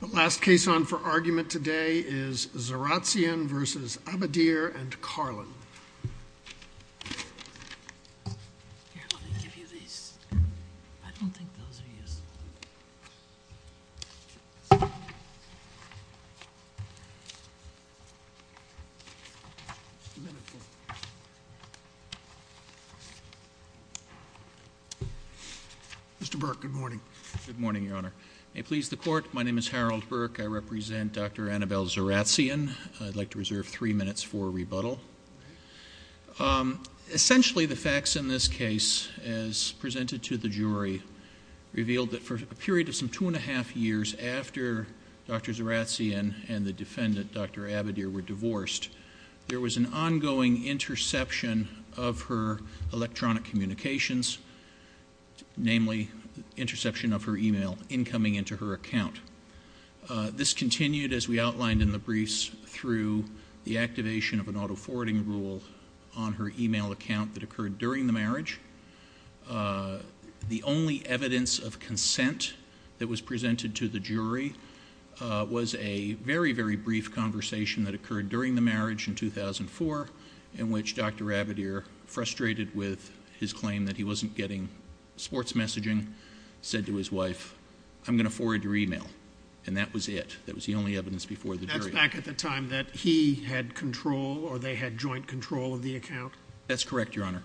The last case on for argument today is Zaratzian v. Abadir and Carlin. Here, let me give you these. I don't think those are useful. Mr. Burke, good morning. Good morning, Your Honor. May it please the Court, my name is Harold Burke. I represent Dr. Annabelle Zaratzian. I'd like to reserve three minutes for rebuttal. Essentially, the facts in this case, as presented to the jury, revealed that for a period of some two and a half years after Dr. Zaratzian and the defendant, Dr. Abadir, were divorced, there was an ongoing interception of her electronic communications, namely interception of her email, incoming into her account. This continued, as we outlined in the briefs, through the activation of an auto-forwarding rule on her email account that occurred during the marriage. The only evidence of consent that was presented to the jury was a very, very brief conversation that occurred during the marriage in 2004 in which Dr. Abadir, frustrated with his claim that he wasn't getting sports messaging, said to his wife, I'm going to forward your email. And that was it. That was the only evidence before the jury. That's back at the time that he had control or they had joint control of the account? That's correct, Your Honor.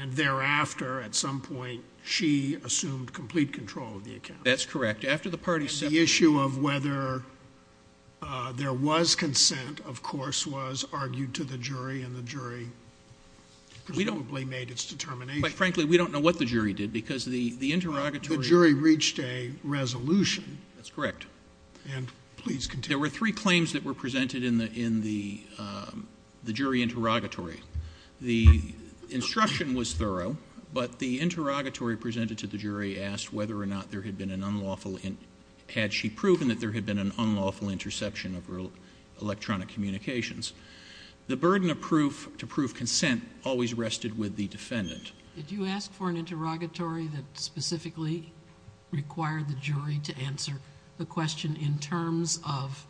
And thereafter, at some point, she assumed complete control of the account? That's correct. After the parties separated. And the issue of whether there was consent, of course, was argued to the jury and the jury presumably made its determination. Frankly, we don't know what the jury did because the interrogatory— The jury reached a resolution. That's correct. And please continue. There were three claims that were presented in the jury interrogatory. The instruction was thorough, but the interrogatory presented to the jury asked whether or not there had been an unlawful—had she proven that there had been an unlawful interception of electronic communications. The burden of proof to prove consent always rested with the defendant. Did you ask for an interrogatory that specifically required the jury to answer the question in terms of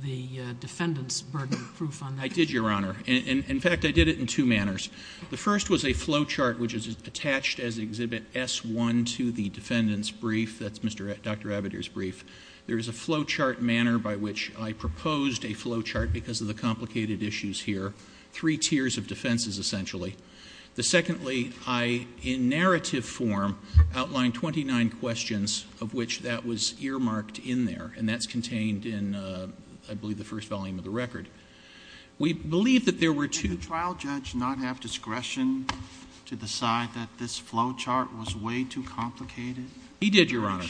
the defendant's burden of proof on that? I did, Your Honor. In fact, I did it in two manners. The first was a flowchart, which is attached as Exhibit S-1 to the defendant's brief. That's Dr. Abadir's brief. There is a flowchart manner by which I proposed a flowchart because of the complicated issues here. Three tiers of defenses, essentially. The secondly, I, in narrative form, outlined 29 questions of which that was earmarked in there, and that's contained in, I believe, the first volume of the record. We believe that there were two— Did the trial judge not have discretion to decide that this flowchart was way too complicated? He did, Your Honor,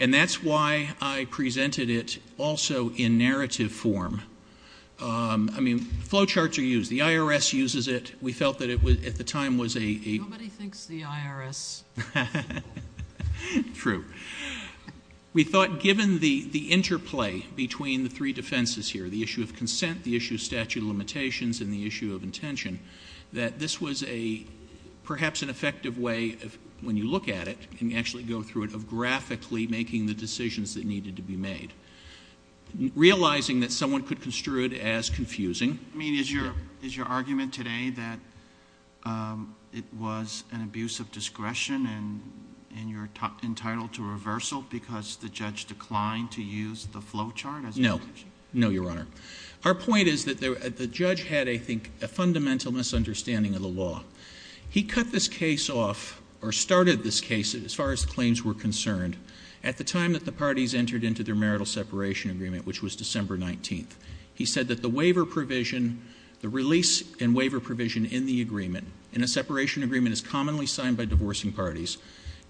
and that's why I presented it also in narrative form. I mean, flowcharts are used. The IRS uses it. We felt that it, at the time, was a— Nobody thinks the IRS— True. We thought, given the interplay between the three defenses here, the issue of consent, the issue of statute of limitations, and the issue of intention, that this was perhaps an effective way, when you look at it and actually go through it, of graphically making the decisions that needed to be made. Realizing that someone could construe it as confusing— I mean, is your argument today that it was an abuse of discretion and you're entitled to reversal because the judge declined to use the flowchart? No. No, Your Honor. Our point is that the judge had, I think, a fundamental misunderstanding of the law. He cut this case off, or started this case, as far as claims were concerned, at the time that the parties entered into their marital separation agreement, which was December 19th. He said that the waiver provision, the release and waiver provision in the agreement, in a separation agreement as commonly signed by divorcing parties,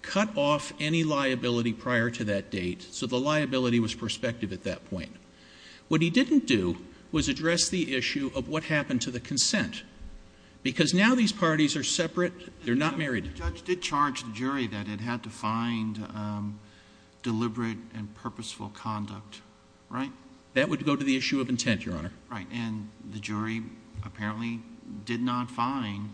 cut off any liability prior to that date, so the liability was prospective at that point. What he didn't do was address the issue of what happened to the consent, because now these parties are separate. They're not married. The judge did charge the jury that it had to find deliberate and purposeful conduct, right? That would go to the issue of intent, Your Honor. Right, and the jury apparently did not find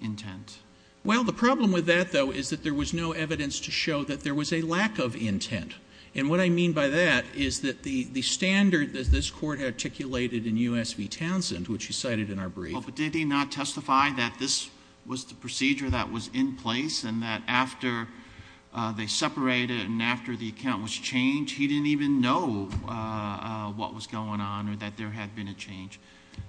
intent. Well, the problem with that, though, is that there was no evidence to show that there was a lack of intent. And what I mean by that is that the standard that this Court articulated in U.S. v. Townsend, which you cited in our brief— or that there had been a change.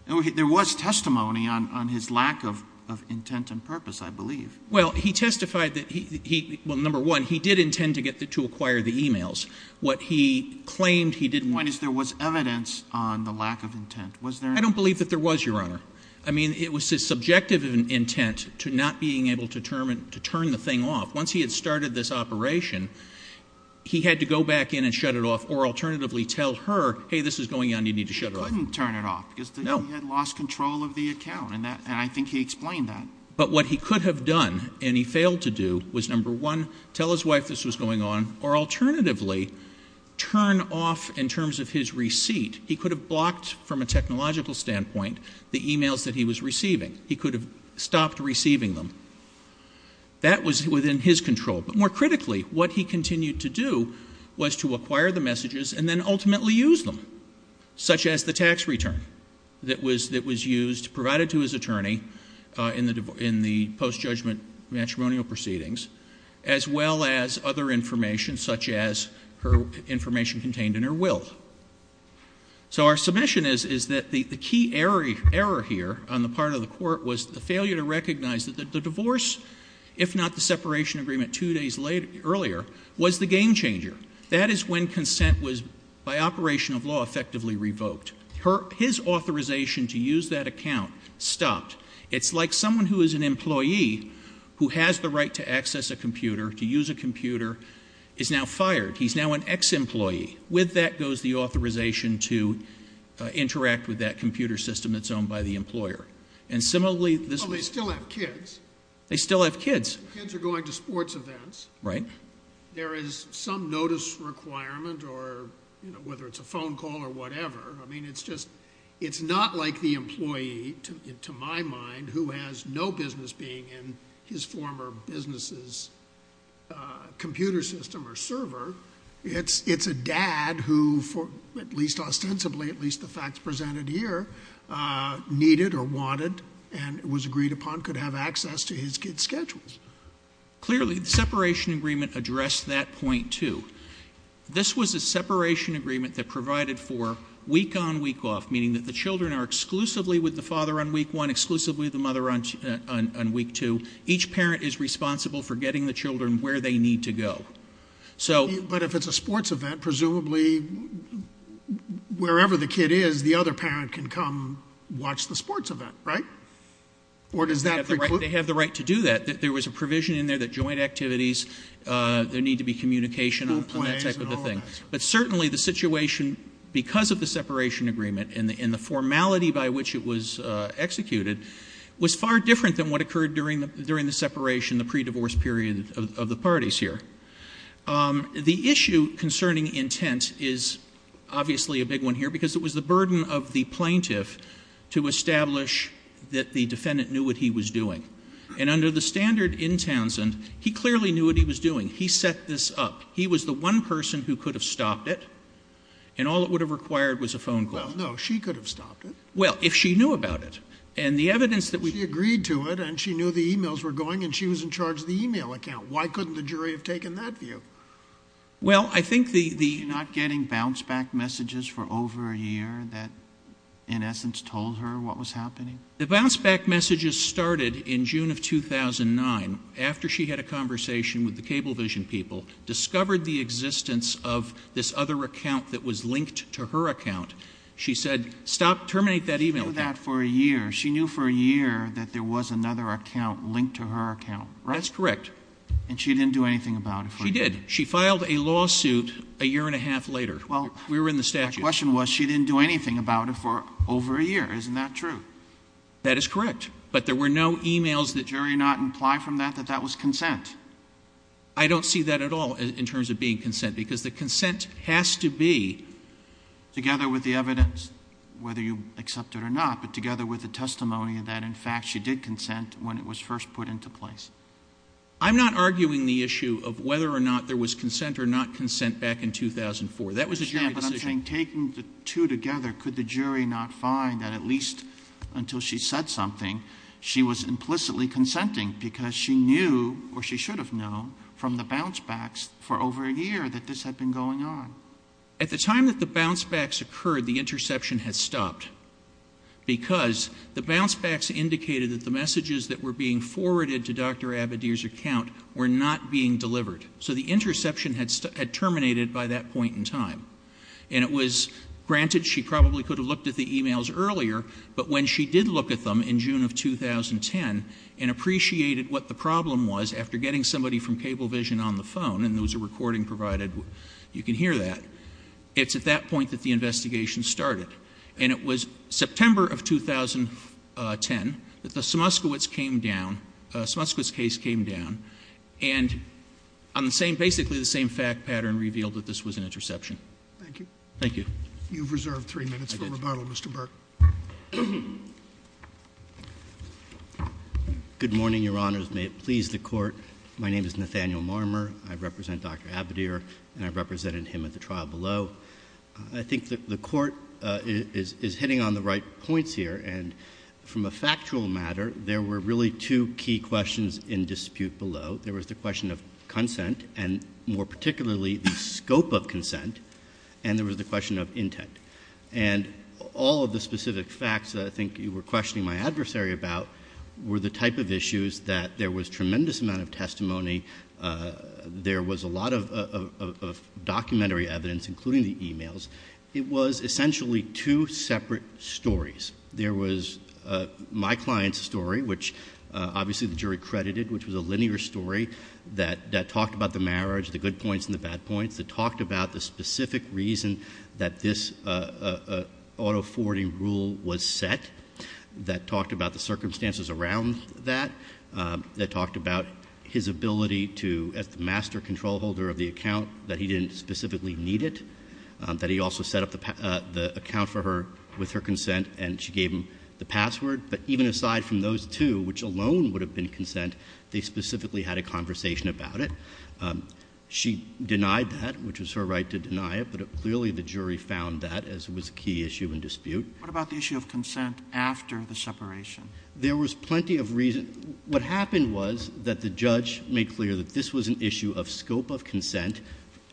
There was testimony on his lack of intent and purpose, I believe. Well, he testified that he—well, number one, he did intend to acquire the e-mails. What he claimed he didn't want— When there was evidence on the lack of intent, was there— I don't believe that there was, Your Honor. I mean, it was his subjective intent to not being able to turn the thing off. Once he had started this operation, he had to go back in and shut it off, or alternatively tell her, hey, this is going on, you need to shut it off. He couldn't turn it off because he had lost control of the account, and I think he explained that. But what he could have done, and he failed to do, was, number one, tell his wife this was going on, or alternatively, turn off, in terms of his receipt— he could have blocked, from a technological standpoint, the e-mails that he was receiving. He could have stopped receiving them. That was within his control. But more critically, what he continued to do was to acquire the messages and then ultimately use them, such as the tax return that was used, provided to his attorney in the post-judgment matrimonial proceedings, as well as other information, such as her information contained in her will. So our submission is that the key error here on the part of the Court was the failure to recognize that the divorce, if not the separation agreement two days earlier, was the game changer. That is when consent was, by operation of law, effectively revoked. His authorization to use that account stopped. It's like someone who is an employee who has the right to access a computer, to use a computer, is now fired. He's now an ex-employee. With that goes the authorization to interact with that computer system that's owned by the employer. And similarly— Well, they still have kids. They still have kids. Kids are going to sports events. Right. There is some notice requirement, or whether it's a phone call or whatever. I mean, it's just—it's not like the employee, to my mind, who has no business being in his former business's computer system or server. It's a dad who, at least ostensibly, at least the facts presented here, needed or wanted and was agreed upon, could have access to his kids' schedules. Clearly, the separation agreement addressed that point, too. This was a separation agreement that provided for week-on, week-off, meaning that the children are exclusively with the father on week one, exclusively with the mother on week two. Each parent is responsible for getting the children where they need to go. But if it's a sports event, presumably, wherever the kid is, the other parent can come watch the sports event, right? Or does that preclude— They have the right to do that. There was a provision in there that joint activities— There need to be communication on that type of a thing. But certainly the situation, because of the separation agreement and the formality by which it was executed, was far different than what occurred during the separation, the pre-divorce period of the parties here. The issue concerning intent is obviously a big one here because it was the burden of the plaintiff to establish that the defendant knew what he was doing. And under the standard in Townsend, he clearly knew what he was doing. He set this up. He was the one person who could have stopped it, and all it would have required was a phone call. Well, no, she could have stopped it. Well, if she knew about it. And the evidence that we— She agreed to it, and she knew the e-mails were going, and she was in charge of the e-mail account. Why couldn't the jury have taken that view? Well, I think the— Were you not getting bounce-back messages for over a year that, in essence, told her what was happening? The bounce-back messages started in June of 2009, after she had a conversation with the Cablevision people, discovered the existence of this other account that was linked to her account. She said, stop, terminate that e-mail. She knew that for a year. She knew for a year that there was another account linked to her account, right? That's correct. And she didn't do anything about it for a year? She did. She filed a lawsuit a year and a half later. Well— We were in the statute. My question was, she didn't do anything about it for over a year. Isn't that true? That is correct. But there were no e-mails that— I don't see that at all in terms of being consent, because the consent has to be— Together with the evidence, whether you accept it or not, but together with the testimony that, in fact, she did consent when it was first put into place. I'm not arguing the issue of whether or not there was consent or not consent back in 2004. That was a jury decision. Yeah, but I'm saying, taking the two together, could the jury not find that at least until she said something, she was implicitly consenting because she knew, or she should have known, from the bounce-backs for over a year that this had been going on? At the time that the bounce-backs occurred, the interception had stopped because the bounce-backs indicated that the messages that were being forwarded to Dr. Abadir's account were not being delivered. So the interception had terminated by that point in time. And it was granted she probably could have looked at the e-mails earlier, but when she did look at them in June of 2010 and appreciated what the problem was after getting somebody from Cablevision on the phone, and there was a recording provided, you can hear that, it's at that point that the investigation started. And it was September of 2010 that the Smutskiewicz came down, Smutskiewicz case came down, and on the same, basically the same fact pattern revealed that this was an interception. Thank you. Thank you. You have reserved 3 minutes for rebuttal, Mr. Burke. Good morning, Your Honors. May it please the Court. My name is Nathaniel Marmer. I represent Dr. Abadir, and I represented him at the trial below. I think the Court is hitting on the right points here, and from a factual matter, there were really two key questions in dispute below. There was the question of consent, and more particularly the scope of consent, and there was the question of intent. And all of the specific facts that I think you were questioning my adversary about were the type of issues that there was tremendous amount of testimony, there was a lot of documentary evidence, including the e-mails. It was essentially two separate stories. There was my client's story, which obviously the jury credited, which was a linear story that talked about the marriage, the good points and the bad points, that talked about the specific reason that this auto forwarding rule was set, that talked about the circumstances around that, that talked about his ability to, as the master control holder of the account, that he didn't specifically need it, that he also set up the account for her with her consent and she gave him the password. But even aside from those two, which alone would have been consent, they specifically had a conversation about it. She denied that, which was her right to deny it, but clearly the jury found that as was a key issue in dispute. What about the issue of consent after the separation? There was plenty of reason. What happened was that the judge made clear that this was an issue of scope of consent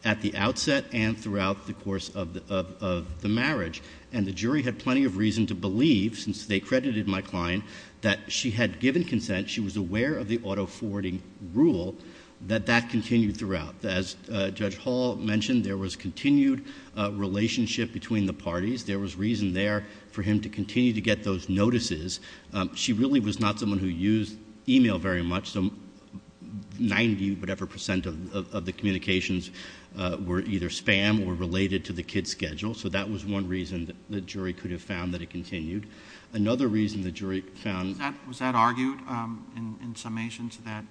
at the outset and throughout the course of the marriage. And the jury had plenty of reason to believe, since they credited my client, that she had given consent, she was aware of the auto forwarding rule, that that continued throughout. As Judge Hall mentioned, there was continued relationship between the parties. There was reason there for him to continue to get those notices. She really was not someone who used e-mail very much. 90-whatever percent of the communications were either spam or related to the kid's schedule. So that was one reason the jury could have found that it continued. Another reason the jury found- Was that argued in summation to that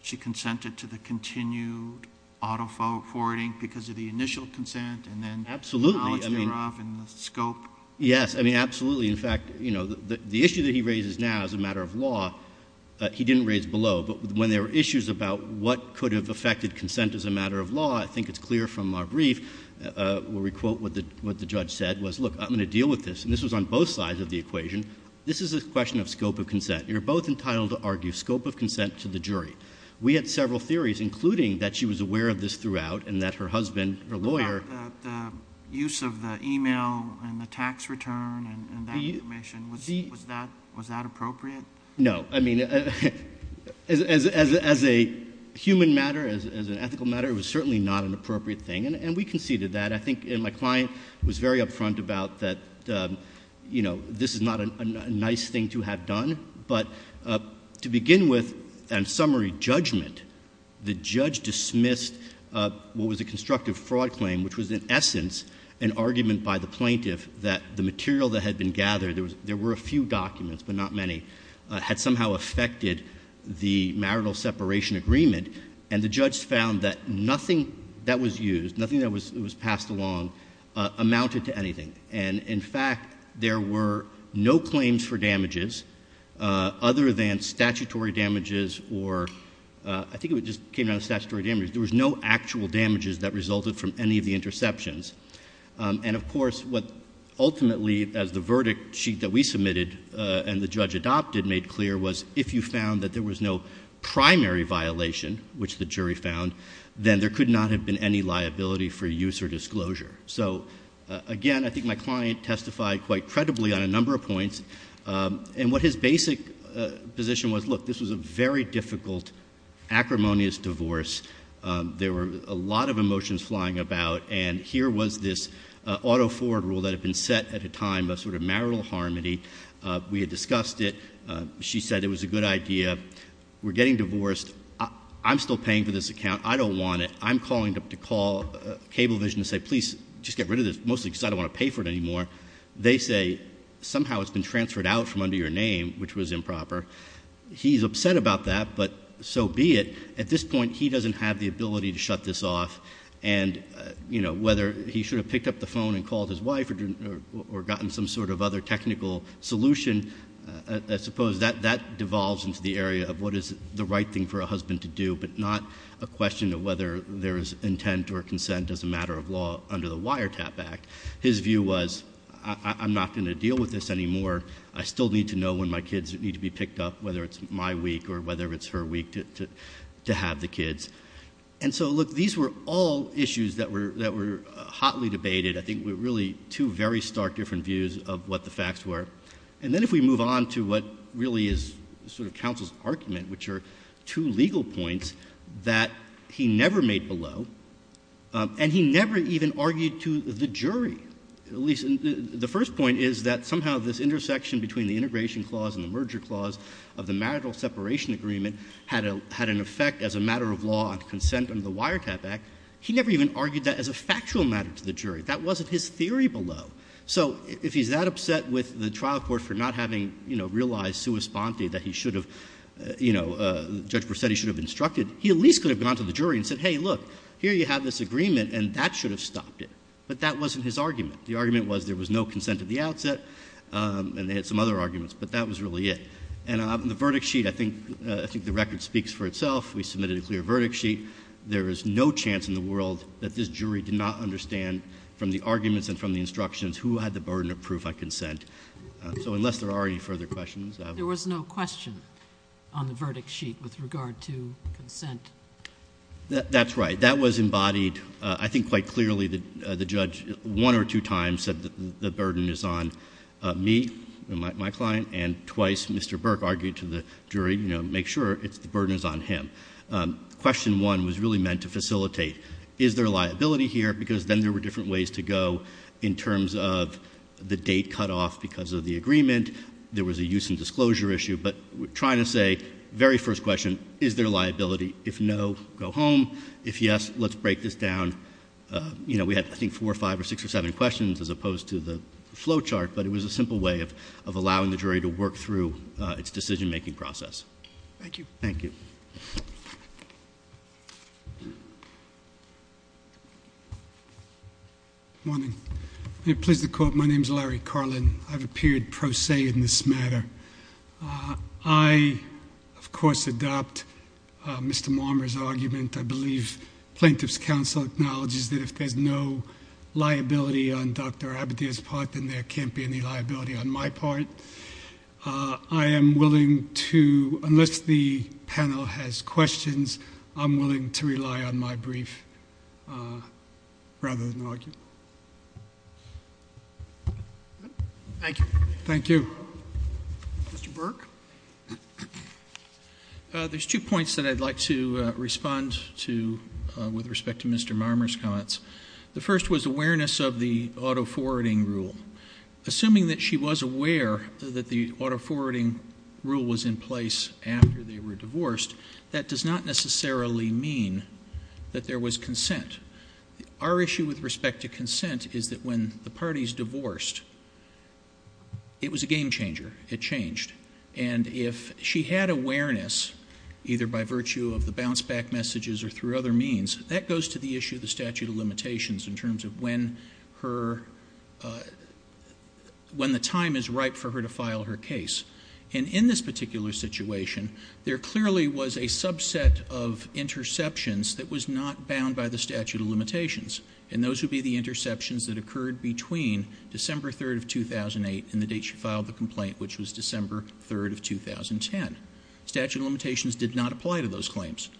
she consented to the continued auto forwarding because of the initial consent? Absolutely. And then the knowledge thereof and the scope? Yes. I mean, absolutely. In fact, the issue that he raises now as a matter of law, he didn't raise below. But when there were issues about what could have affected consent as a matter of law, I think it's clear from our brief where we quote what the judge said was, look, I'm going to deal with this. And this was on both sides of the equation. This is a question of scope of consent. You're both entitled to argue scope of consent to the jury. We had several theories, including that she was aware of this throughout and that her husband, her lawyer- Was that appropriate? No. I mean, as a human matter, as an ethical matter, it was certainly not an appropriate thing. And we conceded that. I think my client was very upfront about that, you know, this is not a nice thing to have done. But to begin with, on summary judgment, the judge dismissed what was a constructive fraud claim, which was in essence an argument by the plaintiff that the material that had been gathered, there were a few documents but not many, had somehow affected the marital separation agreement. And the judge found that nothing that was used, nothing that was passed along amounted to anything. And, in fact, there were no claims for damages other than statutory damages or I think it just came down to statutory damages. There was no actual damages that resulted from any of the interceptions. And, of course, what ultimately, as the verdict sheet that we submitted and the judge adopted made clear, was if you found that there was no primary violation, which the jury found, then there could not have been any liability for use or disclosure. So, again, I think my client testified quite credibly on a number of points. And what his basic position was, look, this was a very difficult, acrimonious divorce. There were a lot of emotions flying about. And here was this auto forward rule that had been set at a time of sort of marital harmony. We had discussed it. She said it was a good idea. We're getting divorced. I'm still paying for this account. I don't want it. I'm calling to call Cablevision to say, please, just get rid of this, mostly because I don't want to pay for it anymore. They say, somehow it's been transferred out from under your name, which was improper. He's upset about that, but so be it. At this point, he doesn't have the ability to shut this off. And, you know, whether he should have picked up the phone and called his wife or gotten some sort of other technical solution, I suppose that devolves into the area of what is the right thing for a husband to do, but not a question of whether there is intent or consent as a matter of law under the Wiretap Act. His view was, I'm not going to deal with this anymore. I still need to know when my kids need to be picked up, whether it's my week or whether it's her week to have the kids. And so, look, these were all issues that were hotly debated. I think were really two very stark different views of what the facts were. And then if we move on to what really is sort of counsel's argument, which are two legal points that he never made below, and he never even argued to the jury. The first point is that somehow this intersection between the integration clause and the merger clause of the marital separation agreement had an effect as a matter of law and consent under the Wiretap Act. He never even argued that as a factual matter to the jury. That wasn't his theory below. So if he's that upset with the trial court for not having, you know, realized sua sponte that he should have, you know, Judge Borsetti should have instructed, he at least could have gone to the jury and said, hey, look, here you have this agreement and that should have stopped it. But that wasn't his argument. The argument was there was no consent at the outset, and they had some other arguments, but that was really it. And on the verdict sheet, I think the record speaks for itself. We submitted a clear verdict sheet. There is no chance in the world that this jury did not understand from the arguments and from the instructions who had the burden of proof on consent. So unless there are any further questions. There was no question on the verdict sheet with regard to consent. That's right. That was embodied, I think, quite clearly. The judge one or two times said the burden is on me, my client, and twice Mr. Burke argued to the jury, you know, make sure the burden is on him. Question one was really meant to facilitate. Is there a liability here? Because then there were different ways to go in terms of the date cut off because of the agreement. There was a use and disclosure issue. But we're trying to say, very first question, is there a liability? If no, go home. If yes, let's break this down. You know, we had, I think, four or five or six or seven questions as opposed to the flow chart. But it was a simple way of allowing the jury to work through its decision-making process. Thank you. Thank you. Good morning. I'm pleased to call. My name is Larry Carlin. I've appeared pro se in this matter. I, of course, adopt Mr. Marmer's argument. I believe Plaintiff's Counsel acknowledges that if there's no liability on Dr. Abadir's part, then there can't be any liability on my part. I am willing to, unless the panel has questions, I'm willing to rely on my brief rather than argue. Thank you. Thank you. Mr. Burke? There's two points that I'd like to respond to with respect to Mr. Marmer's comments. The first was awareness of the auto-forwarding rule. Assuming that she was aware that the auto-forwarding rule was in place after they were divorced, that does not necessarily mean that there was consent. Our issue with respect to consent is that when the parties divorced, it was a game-changer. It changed. And if she had awareness, either by virtue of the bounce-back messages or through other means, that goes to the issue of the statute of limitations in terms of when the time is ripe for her to file her case. And in this particular situation, there clearly was a subset of interceptions that was not bound by the statute of limitations. And those would be the interceptions that occurred between December 3rd of 2008 and the date she filed the complaint, which was December 3rd of 2010. Statute of limitations did not apply to those claims.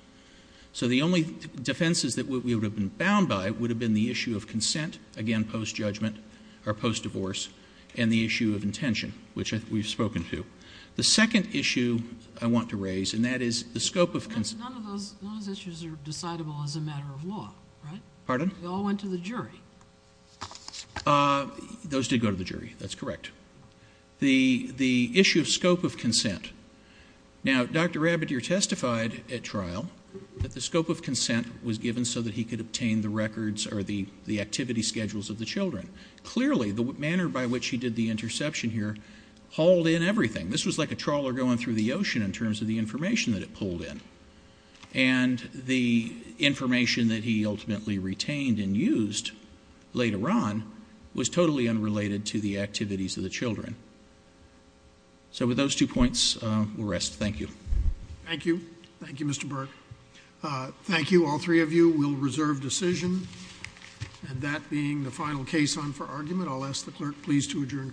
So the only defenses that we would have been bound by would have been the issue of consent, again, post-judgment or post-divorce, and the issue of intention, which we've spoken to. The second issue I want to raise, and that is the scope of consent. None of those issues are decidable as a matter of law, right? Pardon? They all went to the jury. Those did go to the jury. That's correct. The issue of scope of consent. Now, Dr. Rabideur testified at trial that the scope of consent was given so that he could obtain the records or the activity schedules of the children. Clearly, the manner by which he did the interception here hauled in everything. This was like a trawler going through the ocean in terms of the information that it pulled in. And the information that he ultimately retained and used later on was totally unrelated to the activities of the children. So with those two points, we'll rest. Thank you. Thank you. Thank you, Mr. Burke. Thank you, all three of you. We'll reserve decision. And that being the final case on for argument, I'll ask the clerk please to adjourn court.